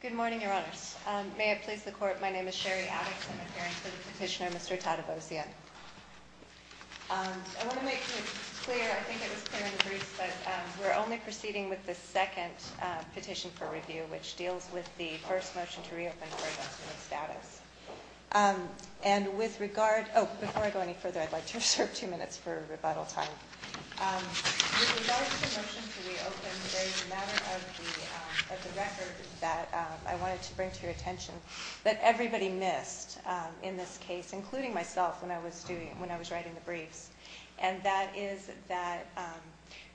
Good morning, Your Honors. May it please the Court, my name is Sherry Addox. I'm appearing for the petitioner, Mr. Tadevosyan. I want to make it clear, I think it was clear in the briefs, but we're only proceeding with the second petition for review, which deals with the first motion to reopen for adjustment of status. And with regard, oh, before I go any further, I'd like to reserve two minutes for rebuttal time. With regard to the motion to reopen, there is a matter of the record that I wanted to bring to your attention that everybody missed in this case, including myself when I was writing the briefs. And that is that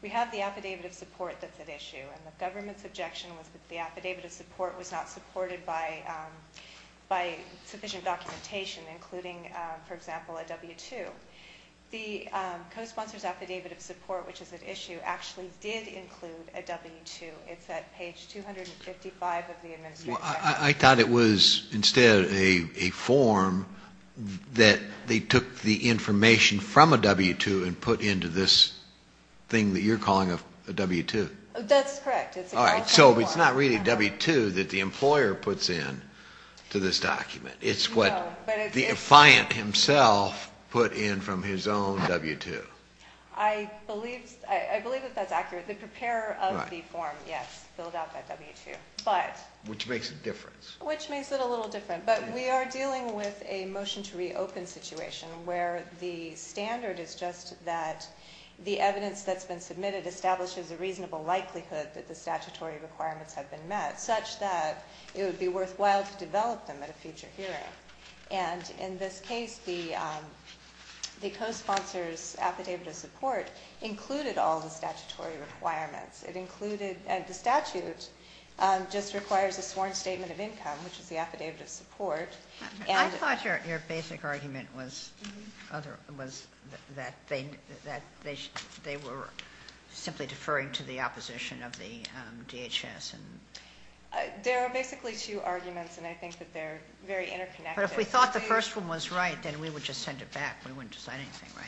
we have the affidavit of support that's at issue. And the government's objection was that the affidavit of support was not supported by sufficient documentation, including, for example, a W-2. The cosponsor's affidavit of support, which is at issue, actually did include a W-2. It's at page 255 of the Administrative Section. I thought it was instead a form that they took the information from a W-2 and put into this thing that you're calling a W-2. That's correct. All right, so it's not really a W-2 that the employer puts in to this document. It's what the client himself put in from his own W-2. I believe that that's accurate. The preparer of the form, yes, filled out that W-2. Which makes a difference. Which makes it a little different. But we are dealing with a motion to reopen situation where the standard is just that the evidence that's been submitted establishes a reasonable likelihood that the statutory requirements have been met, such that it would be worthwhile to develop them at a future hearing. And in this case, the cosponsor's affidavit of support included all the statutory requirements. The statute just requires a sworn statement of income, which is the affidavit of support. I thought your basic argument was that they were simply deferring to the opposition of the DHS. There are basically two arguments, and I think that they're very interconnected. But if we thought the first one was right, then we would just send it back. We wouldn't decide anything, right?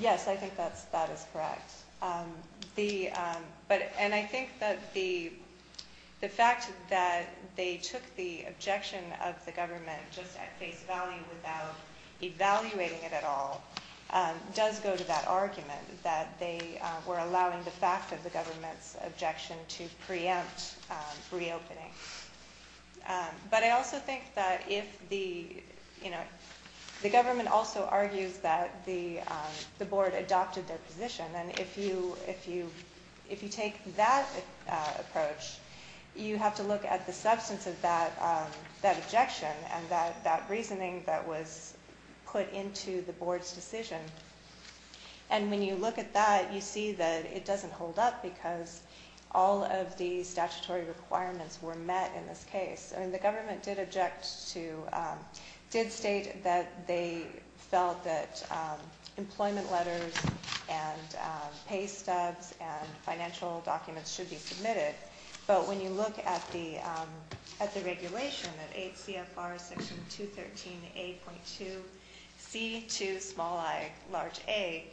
Yes, I think that is correct. And I think that the fact that they took the objection of the government just at face value without evaluating it at all does go to that argument that they were allowing the fact of the government's objection to preempt reopening. But I also think that the government also argues that the board adopted their position. And if you take that approach, you have to look at the substance of that objection and that reasoning that was put into the board's decision. And when you look at that, you see that it doesn't hold up because all of the statutory requirements were met in this case. The government did state that they felt that employment letters and pay stubs and financial documents should be submitted. But when you look at the regulation, that 8 CFR section 213A.2C to small I large A,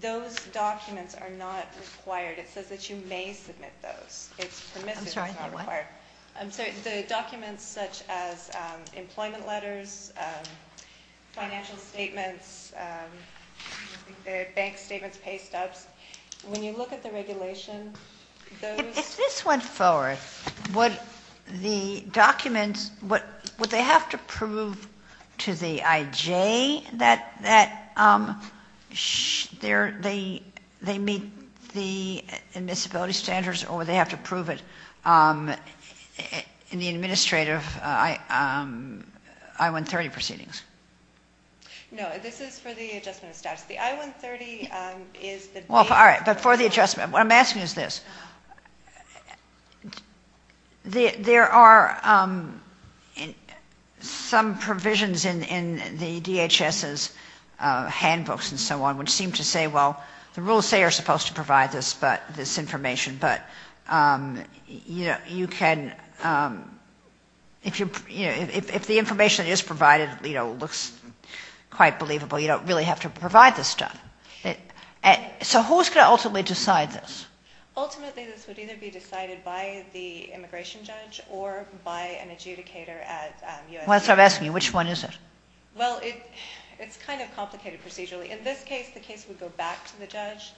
those documents are not required. It says that you may submit those. It's permissive. I'm sorry, what? Employment letters, financial statements, bank statements, pay stubs. When you look at the regulation, those. If this went forward, would the documents, would they have to prove to the IJ that they meet the admissibility standards or would they have to prove it in the administrative I-130 proceedings? No, this is for the adjustment of status. All right, but for the adjustment, what I'm asking is this. There are some provisions in the DHS's handbooks and so on which seem to say, well, the rules say you're supposed to provide this information, but you can, if the information that is provided looks quite believable, you don't really have to provide this stuff. So who's going to ultimately decide this? Ultimately, this would either be decided by the immigration judge or by an adjudicator at U.S. I'm asking you, which one is it? Well, it's kind of complicated procedurally. In this case, the case would go back to the judge.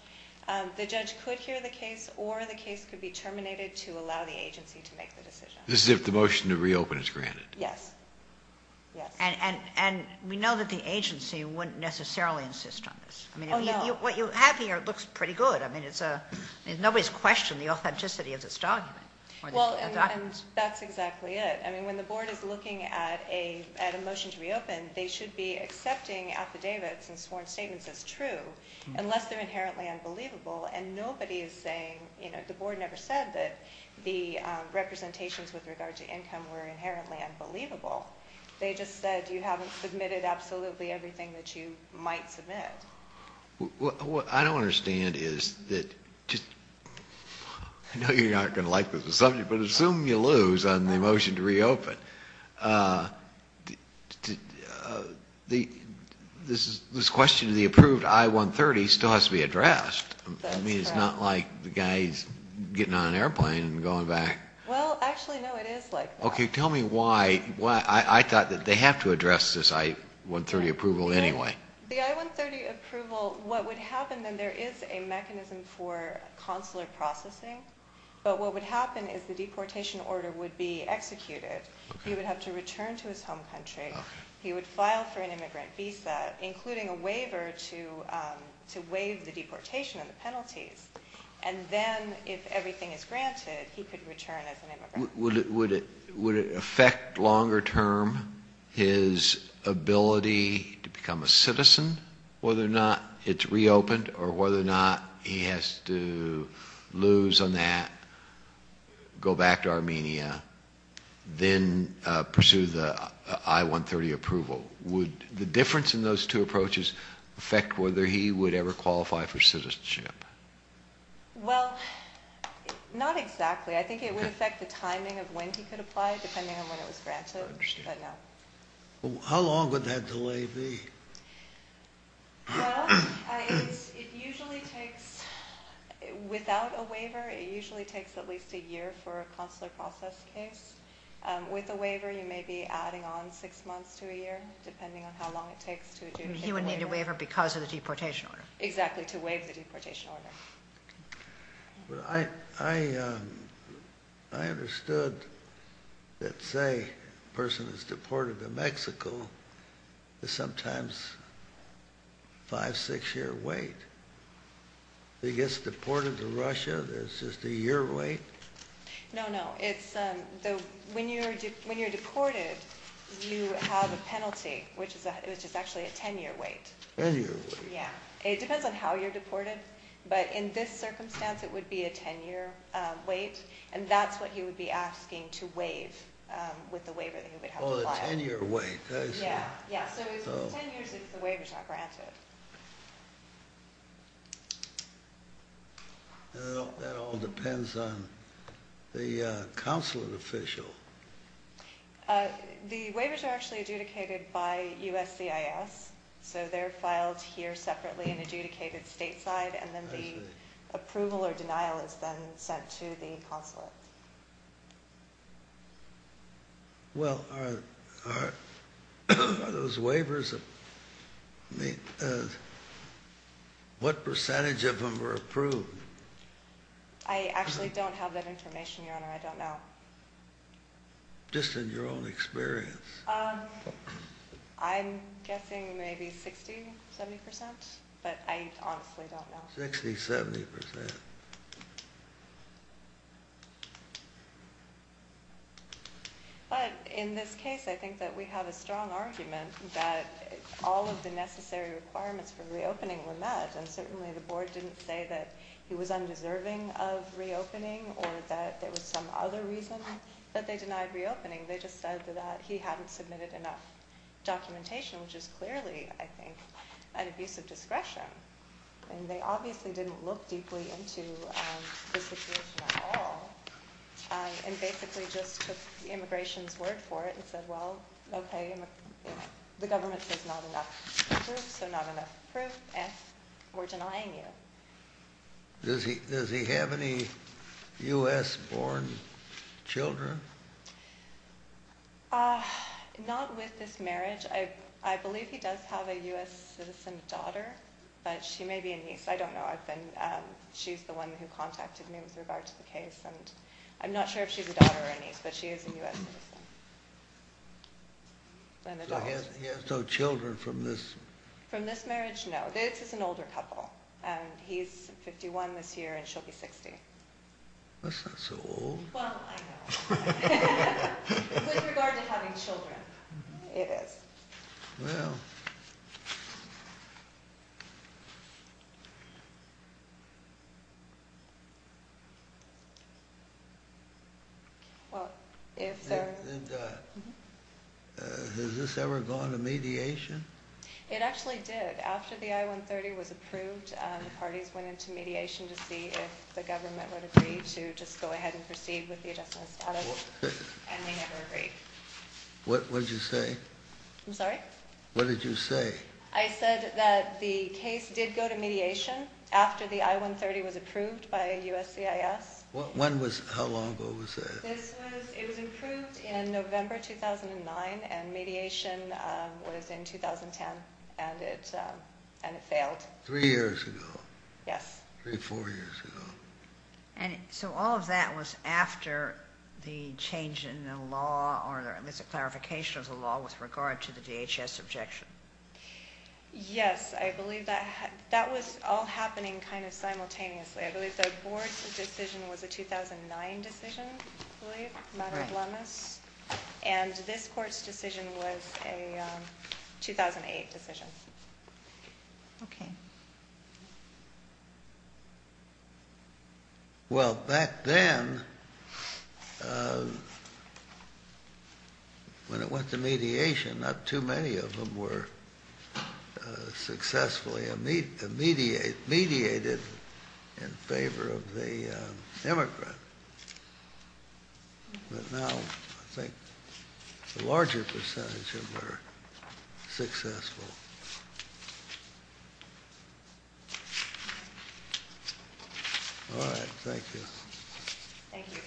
The judge could hear the case or the case could be terminated to allow the agency to make the decision. This is if the motion to reopen is granted? Yes. Yes. And we know that the agency wouldn't necessarily insist on this. Oh, no. What you have here looks pretty good. I mean, nobody's questioned the authenticity of this document. Well, and that's exactly it. I mean, when the board is looking at a motion to reopen, they should be accepting affidavits and sworn statements as true unless they're inherently unbelievable, and nobody is saying, you know, the board never said that the representations with regard to income were inherently unbelievable. They just said you haven't submitted absolutely everything that you might submit. What I don't understand is that just – I know you're not going to like this subject, but assume you lose on the motion to reopen. This question of the approved I-130 still has to be addressed. That's correct. I mean, it's not like the guy's getting on an airplane and going back. Well, actually, no, it is like that. Okay, tell me why. I thought that they have to address this I-130 approval anyway. The I-130 approval, what would happen then, there is a mechanism for consular processing, but what would happen is the deportation order would be executed. He would have to return to his home country. He would file for an immigrant visa, including a waiver to waive the deportation and the penalties. And then if everything is granted, he could return as an immigrant. Would it affect longer term his ability to become a citizen, whether or not it's reopened or whether or not he has to lose on that, go back to Armenia, then pursue the I-130 approval? Would the difference in those two approaches affect whether he would ever qualify for citizenship? Well, not exactly. I think it would affect the timing of when he could apply, depending on when it was granted, but no. How long would that delay be? Well, it usually takes, without a waiver, it usually takes at least a year for a consular process case. With a waiver, you may be adding on six months to a year, depending on how long it takes to do a waiver. He would need a waiver because of the deportation order. Exactly, to waive the deportation order. I understood that, say, a person is deported to Mexico, there's sometimes a five, six year wait. If he gets deported to Russia, there's just a year wait? No, no. When you're deported, you have a penalty, which is actually a ten year wait. Ten year wait. Yeah, it depends on how you're deported, but in this circumstance, it would be a ten year wait, and that's what he would be asking to waive with the waiver that he would have to file. Oh, a ten year wait, I see. Yeah, so it's ten years if the waiver's not granted. That all depends on the consulate official. The waivers are actually adjudicated by USCIS, so they're filed here separately and adjudicated stateside, and then the approval or denial is then sent to the consulate. Well, are those waivers, what percentage of them are approved? I actually don't have that information, Your Honor, I don't know. Just in your own experience. I'm guessing maybe 60, 70 percent, but I honestly don't know. 60, 70 percent. But in this case, I think that we have a strong argument that all of the necessary requirements for reopening were met, and certainly the board didn't say that he was undeserving of reopening, or that there was some other reason that they denied reopening. They just said that he hadn't submitted enough documentation, which is clearly, I think, an abuse of discretion. And they obviously didn't look deeply into the situation at all, and basically just took the immigration's word for it and said, well, okay, the government says not enough proof, so not enough proof, and we're denying you. Does he have any U.S.-born children? Not with this marriage. I believe he does have a U.S. citizen daughter, but she may be a niece. I don't know. She's the one who contacted me with regard to the case, and I'm not sure if she's a daughter or a niece, but she is a U.S. citizen. So he has no children from this? From this marriage, no. This is an older couple, and he's 51 this year, and she'll be 60. That's not so old. Well, I know. With regard to having children. It is. Well. Has this ever gone to mediation? It actually did. After the I-130 was approved, the parties went into mediation to see if the government would agree to just go ahead and proceed with the adjustment of status, and they never agreed. What did you say? I'm sorry? What did you say? I said that the case did go to mediation after the I-130 was approved by USCIS. When was that? How long ago was that? It was approved in November 2009, and mediation was in 2010, and it failed. Three years ago? Yes. Three, four years ago. So all of that was after the change in the law or at least a clarification of the law with regard to the DHS objection? Yes. I believe that was all happening kind of simultaneously. I believe the board's decision was a 2009 decision, I believe, matter of wellness, and this court's decision was a 2008 decision. Okay. Well, back then, when it went to mediation, not too many of them were successfully mediated in favor of the immigrants. But now I think the larger percentage of them are successful. All right. Thank you. Thank you.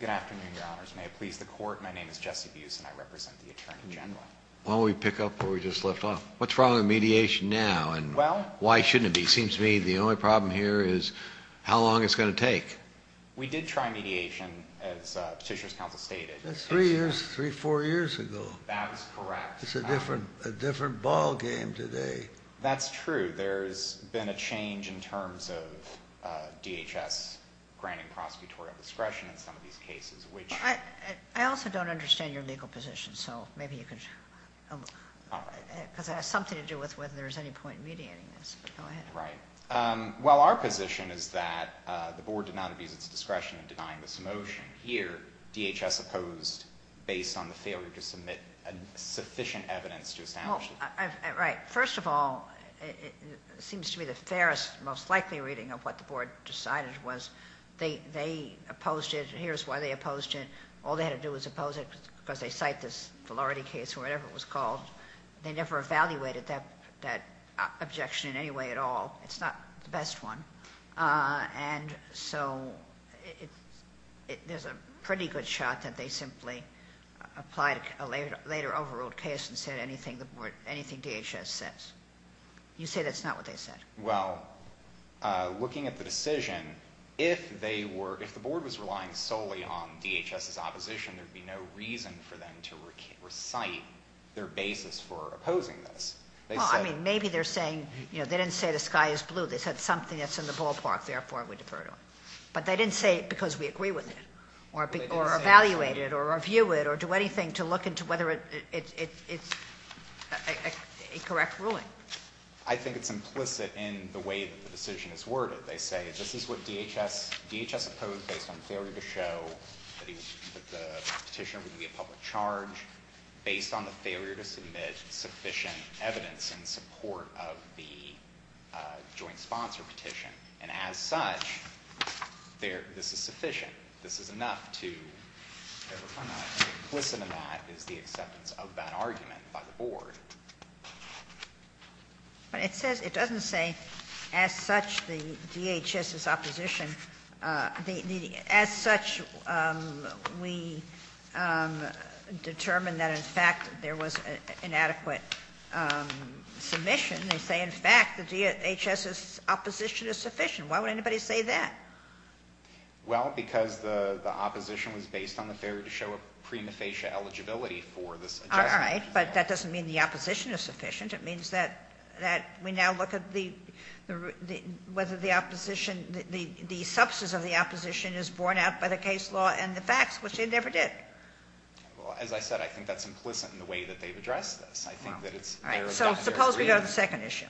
Good afternoon, Your Honors. May it please the Court? My name is Jesse Buse, and I represent the Attorney General. Why don't we pick up where we just left off? What's wrong with mediation now, and why shouldn't it be? It seems to me the only problem here is how long it's going to take. We did try mediation, as Petitioner's Counsel stated. That's three years, three, four years ago. That is correct. It's a different ballgame today. That's true. There's been a change in terms of DHS granting prosecutorial discretion in some of these cases, which— I also don't understand your legal position, so maybe you could— because it has something to do with whether there's any point in mediating this. Go ahead. Right. Well, our position is that the board did not abuse its discretion in denying this motion. Here, DHS opposed based on the failure to submit sufficient evidence to establish it. Right. First of all, it seems to me the fairest, most likely reading of what the board decided was they opposed it, and here's why they opposed it. All they had to do was oppose it because they cite this validity case or whatever it was called. They never evaluated that objection in any way at all. It's not the best one. And so there's a pretty good shot that they simply applied a later overruled case and said anything DHS says. You say that's not what they said. Well, looking at the decision, if they were—if the board was relying solely on DHS's opposition, there would be no reason for them to recite their basis for opposing this. Well, I mean, maybe they're saying, you know, they didn't say the sky is blue. They said something that's in the ballpark, therefore we defer to it. But they didn't say it because we agree with it or evaluate it or review it or do anything to look into whether it's a correct ruling. I think it's implicit in the way that the decision is worded. They say this is what DHS opposed based on failure to show that the petitioner would be a public charge, based on the failure to submit sufficient evidence in support of the joint sponsor petition. And as such, this is sufficient. They say this is enough to—implicit in that is the acceptance of that argument by the board. But it says—it doesn't say, as such, the DHS's opposition. As such, we determined that, in fact, there was inadequate submission. They say, in fact, the DHS's opposition is sufficient. Why would anybody say that? Well, because the opposition was based on the failure to show a prima facie eligibility for this adjustment. All right, but that doesn't mean the opposition is sufficient. It means that we now look at the—whether the opposition— the substance of the opposition is borne out by the case law and the facts, which they never did. Well, as I said, I think that's implicit in the way that they've addressed this. I think that it's— All right, so suppose we go to the second issue.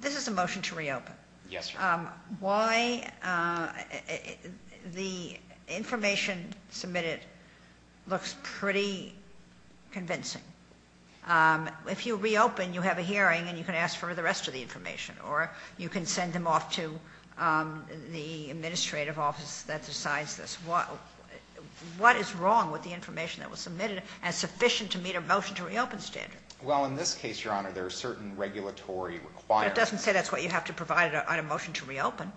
This is a motion to reopen. Yes, Your Honor. Why—the information submitted looks pretty convincing. If you reopen, you have a hearing, and you can ask for the rest of the information, or you can send them off to the administrative office that decides this. What is wrong with the information that was submitted as sufficient to meet a motion to reopen standard? Well, in this case, Your Honor, there are certain regulatory requirements. But it doesn't say that's what you have to provide on a motion to reopen.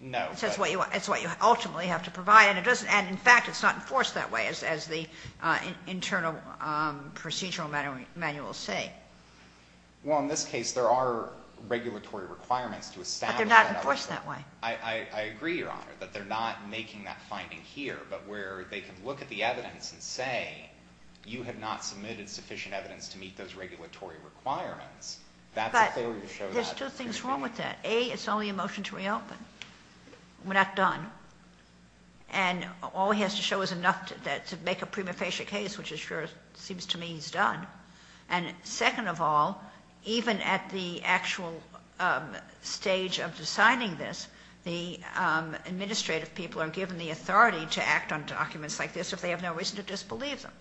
No. It says it's what you ultimately have to provide. And it doesn't—and, in fact, it's not enforced that way, as the internal procedural manuals say. Well, in this case, there are regulatory requirements to establish that— But they're not enforced that way. I agree, Your Honor, that they're not making that finding here, but where they can look at the evidence and say you have not submitted sufficient evidence to meet those regulatory requirements. But there's two things wrong with that. A, it's only a motion to reopen. We're not done. And all he has to show is enough to make a prima facie case, which it sure seems to me he's done. And second of all, even at the actual stage of deciding this, the administrative people are given the authority to act on documents like this if they have no reason to disbelieve them.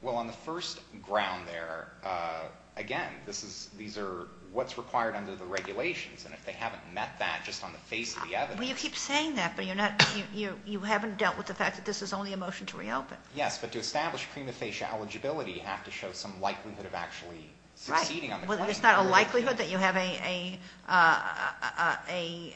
Well, on the first ground there, again, these are what's required under the regulations. And if they haven't met that just on the face of the evidence— Well, you keep saying that, but you haven't dealt with the fact that this is only a motion to reopen. Yes, but to establish prima facie eligibility, you have to show some likelihood of actually succeeding on the claim. Right. Well, there's not a likelihood that you have a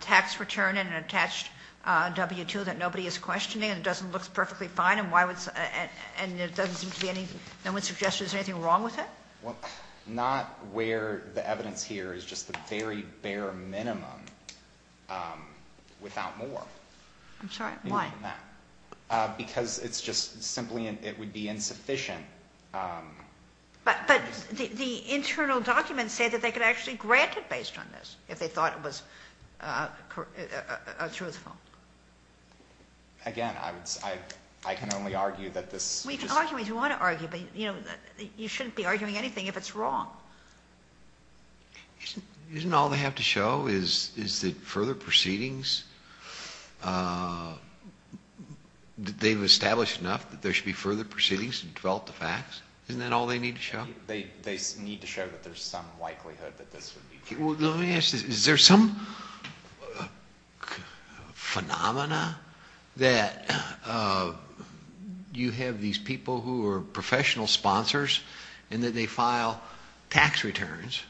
tax return and an attached W-2 that nobody is questioning and it doesn't look perfectly fine, and it doesn't seem to be any— no one suggests there's anything wrong with it? Well, not where the evidence here is just the very bare minimum without more. I'm sorry, why? Because it's just simply it would be insufficient. But the internal documents say that they could actually grant it based on this if they thought it was truthful. Again, I can only argue that this— Well, you can argue what you want to argue, but you shouldn't be arguing anything if it's wrong. Isn't all they have to show is that further proceedings, they've established enough that there should be further proceedings to develop the facts? Isn't that all they need to show? They need to show that there's some likelihood that this would be true. Let me ask this. Is there some phenomena that you have these people who are professional sponsors and that they file tax returns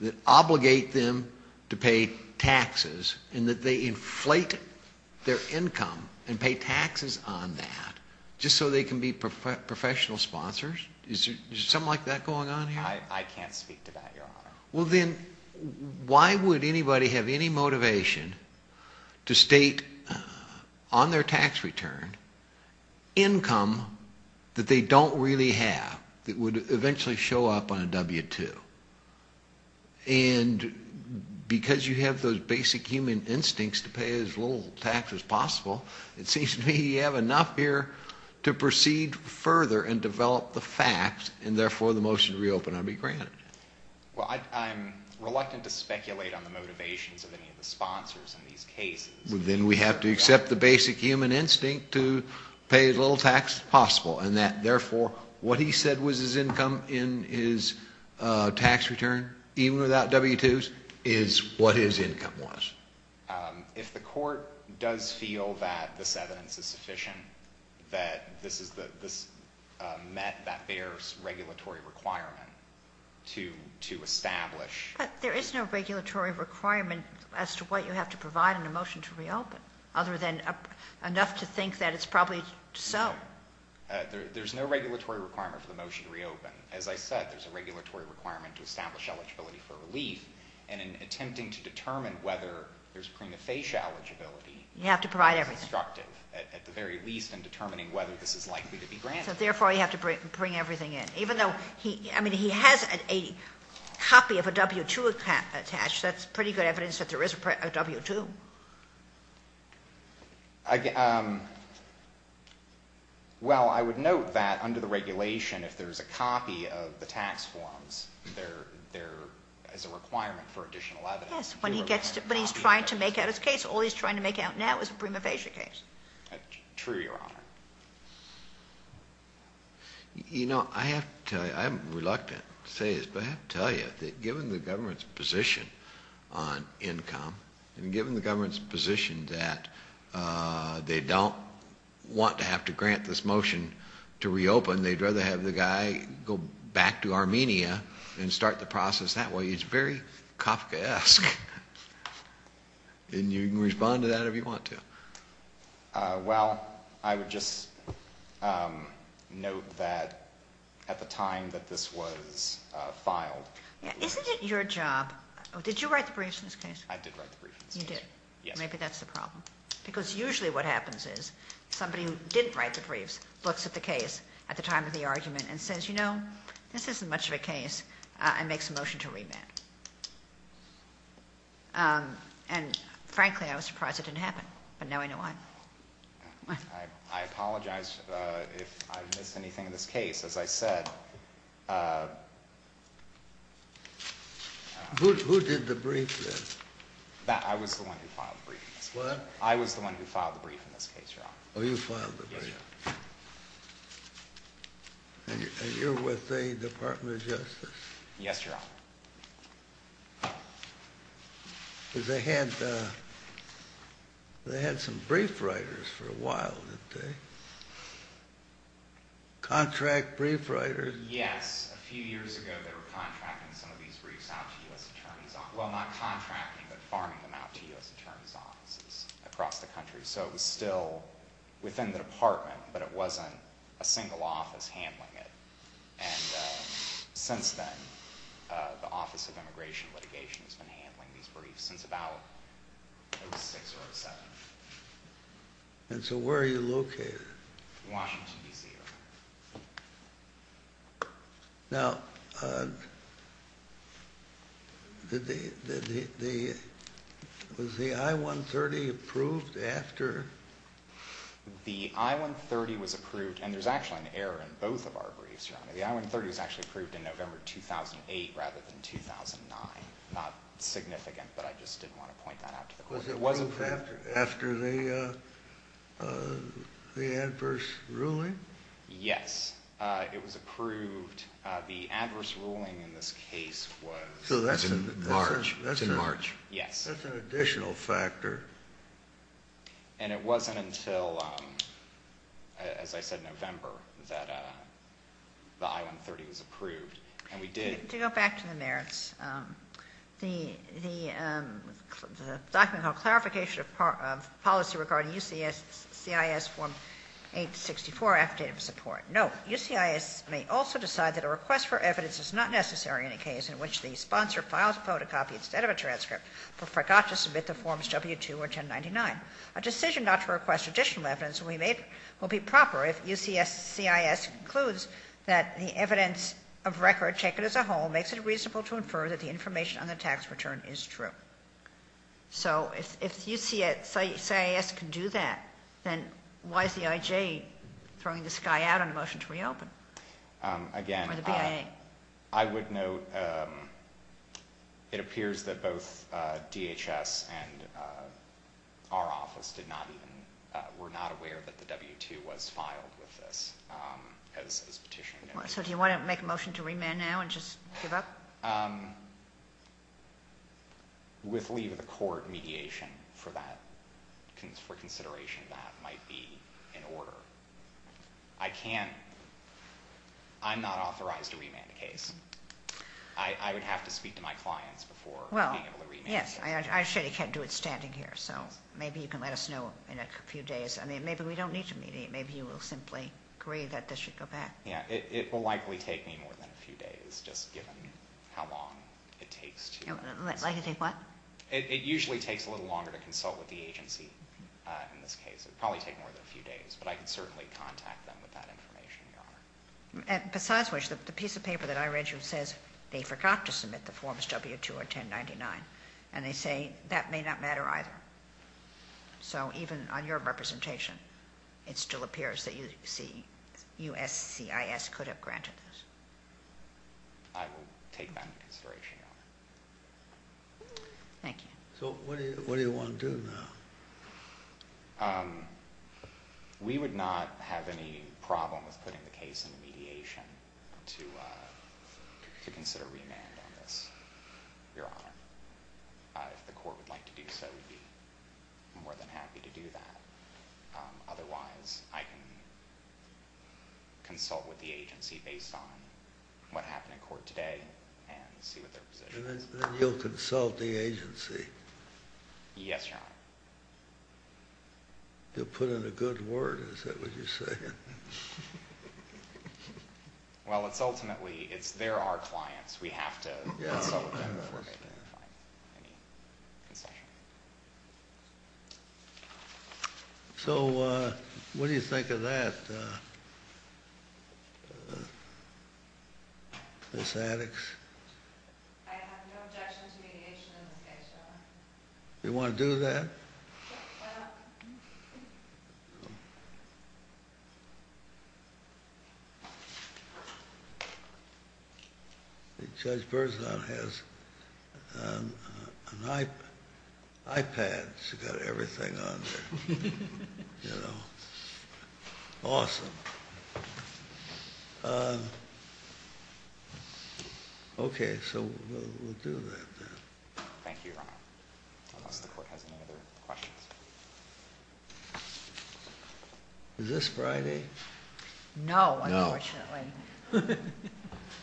that obligate them to pay taxes and that they inflate their income and pay taxes on that just so they can be professional sponsors? Is there something like that going on here? I can't speak to that, Your Honor. Well, then why would anybody have any motivation to state on their tax return income that they don't really have that would eventually show up on a W-2? And because you have those basic human instincts to pay as little tax as possible, it seems to me you have enough here to proceed further and develop the facts and therefore the motion to reopen ought to be granted. Well, I'm reluctant to speculate on the motivations of any of the sponsors in these cases. Then we have to accept the basic human instinct to pay as little tax as possible and that, therefore, what he said was his income in his tax return, even without W-2s, is what his income was. If the court does feel that this evidence is sufficient, that this met that bears regulatory requirement to establish. But there is no regulatory requirement as to what you have to provide in a motion to reopen other than enough to think that it's probably so. No. There's no regulatory requirement for the motion to reopen. As I said, there's a regulatory requirement to establish eligibility for relief, and in attempting to determine whether there's prima facie eligibility. You have to provide everything. It's constructive, at the very least, in determining whether this is likely to be granted. Therefore, you have to bring everything in. Even though he has a copy of a W-2 attached, that's pretty good evidence that there is a W-2. Well, I would note that under the regulation, if there's a copy of the tax forms, there is a requirement for additional evidence. Yes. When he's trying to make out his case, all he's trying to make out now is a prima facie case. True, Your Honor. You know, I have to tell you, I'm reluctant to say this, but I have to tell you that given the government's position on income, and given the government's position that they don't want to have to grant this motion to reopen, they'd rather have the guy go back to Armenia and start the process that way. It's very Kafkaesque. And you can respond to that if you want to. Well, I would just note that at the time that this was filed. Isn't it your job? Did you write the briefs in this case? I did write the briefs. You did? Yes. Maybe that's the problem. Because usually what happens is somebody who didn't write the briefs looks at the case at the time of the argument and says, you know, this isn't much of a case, and makes a motion to revamp. And, frankly, I was surprised it didn't happen. But now I know why. I apologize if I missed anything in this case. As I said. Who did the brief then? I was the one who filed the brief in this case. What? I was the one who filed the brief in this case, Your Honor. Oh, you filed the brief. Yes, Your Honor. And you're with the Department of Justice? Yes, Your Honor. Because they had some brief writers for a while, didn't they? Contract brief writers. Yes. A few years ago they were contracting some of these briefs out to U.S. attorneys' offices. Well, not contracting, but farming them out to U.S. attorneys' offices across the country. So it was still within the department, but it wasn't a single office handling it. And since then, the Office of Immigration and Litigation has been handling these briefs since about 2006 or 2007. And so where are you located? Washington, D.C., Your Honor. Now, was the I-130 approved after? The I-130 was approved, and there's actually an error in both of our briefs, Your Honor. The I-130 was actually approved in November 2008 rather than 2009. Not significant, but I just didn't want to point that out to the court. Was it approved after the adverse ruling? Yes, it was approved. The adverse ruling in this case was in March. So that's in March. Yes. That's an additional factor. And it wasn't until, as I said, November that the I-130 was approved. And we did. To go back to the merits, the document called Clarification of Policy Regarding U.C.S.C.I.S. Form 864, Affidavit of Support. Note, U.C.S. may also decide that a request for evidence is not necessary in a case in which the sponsor filed a photocopy instead of a transcript but forgot to submit the forms W-2 or 1099. A decision not to request additional evidence will be proper if U.C.S.C.I.S. concludes that the evidence of record taken as a whole makes it reasonable to infer that the information on the tax return is true. So if U.C.S.C.I.S. can do that, then why is the IJ throwing this guy out on a motion to reopen? Again, I would note it appears that both DHS and our office were not aware that the W-2 was filed with this. So do you want to make a motion to remand now and just give up? With leave of the court mediation for that, for consideration that might be in order. I can't, I'm not authorized to remand a case. I would have to speak to my clients before being able to remand. Well, yes, I actually can't do it standing here, so maybe you can let us know in a few days. I mean, maybe we don't need to mediate. Maybe you will simply agree that this should go back. Yeah, it will likely take me more than a few days, just given how long it takes to. Likely take what? It usually takes a little longer to consult with the agency in this case. It would probably take more than a few days, but I can certainly contact them with that information, Your Honor. Besides which, the piece of paper that I read you says they forgot to submit the forms W-2 or 1099, and they say that may not matter either. So even on your representation, it still appears that USCIS could have granted this. I will take that into consideration, Your Honor. Thank you. So what do you want to do now? We would not have any problem with putting the case into mediation to consider remand on this, Your Honor, if the court would like to do so, we would be more than happy to do that. Otherwise, I can consult with the agency based on what happened in court today and see what their position is. And then you will consult the agency? Yes, Your Honor. You will put in a good word, is that what you are saying? Well, ultimately, they are our clients. We have to consult with them before making a decision. So what do you think of that, Ms. Addox? I have no objection to mediation in this case, Your Honor. Do you want to do that? Judge Berzon has an iPad. She has everything on there. Awesome. Okay, so we will do that. Thank you, Your Honor. Unless the court has any other questions. Is this Friday? No, unfortunately.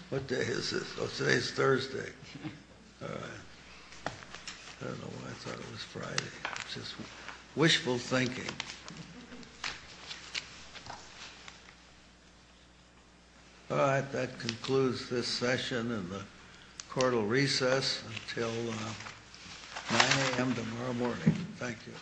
What day is this? Oh, today is Thursday. All right. I don't know why I thought it was Friday. It's just wishful thinking. All right. That concludes this session and the court will recess until 9 a.m. tomorrow morning. Thank you.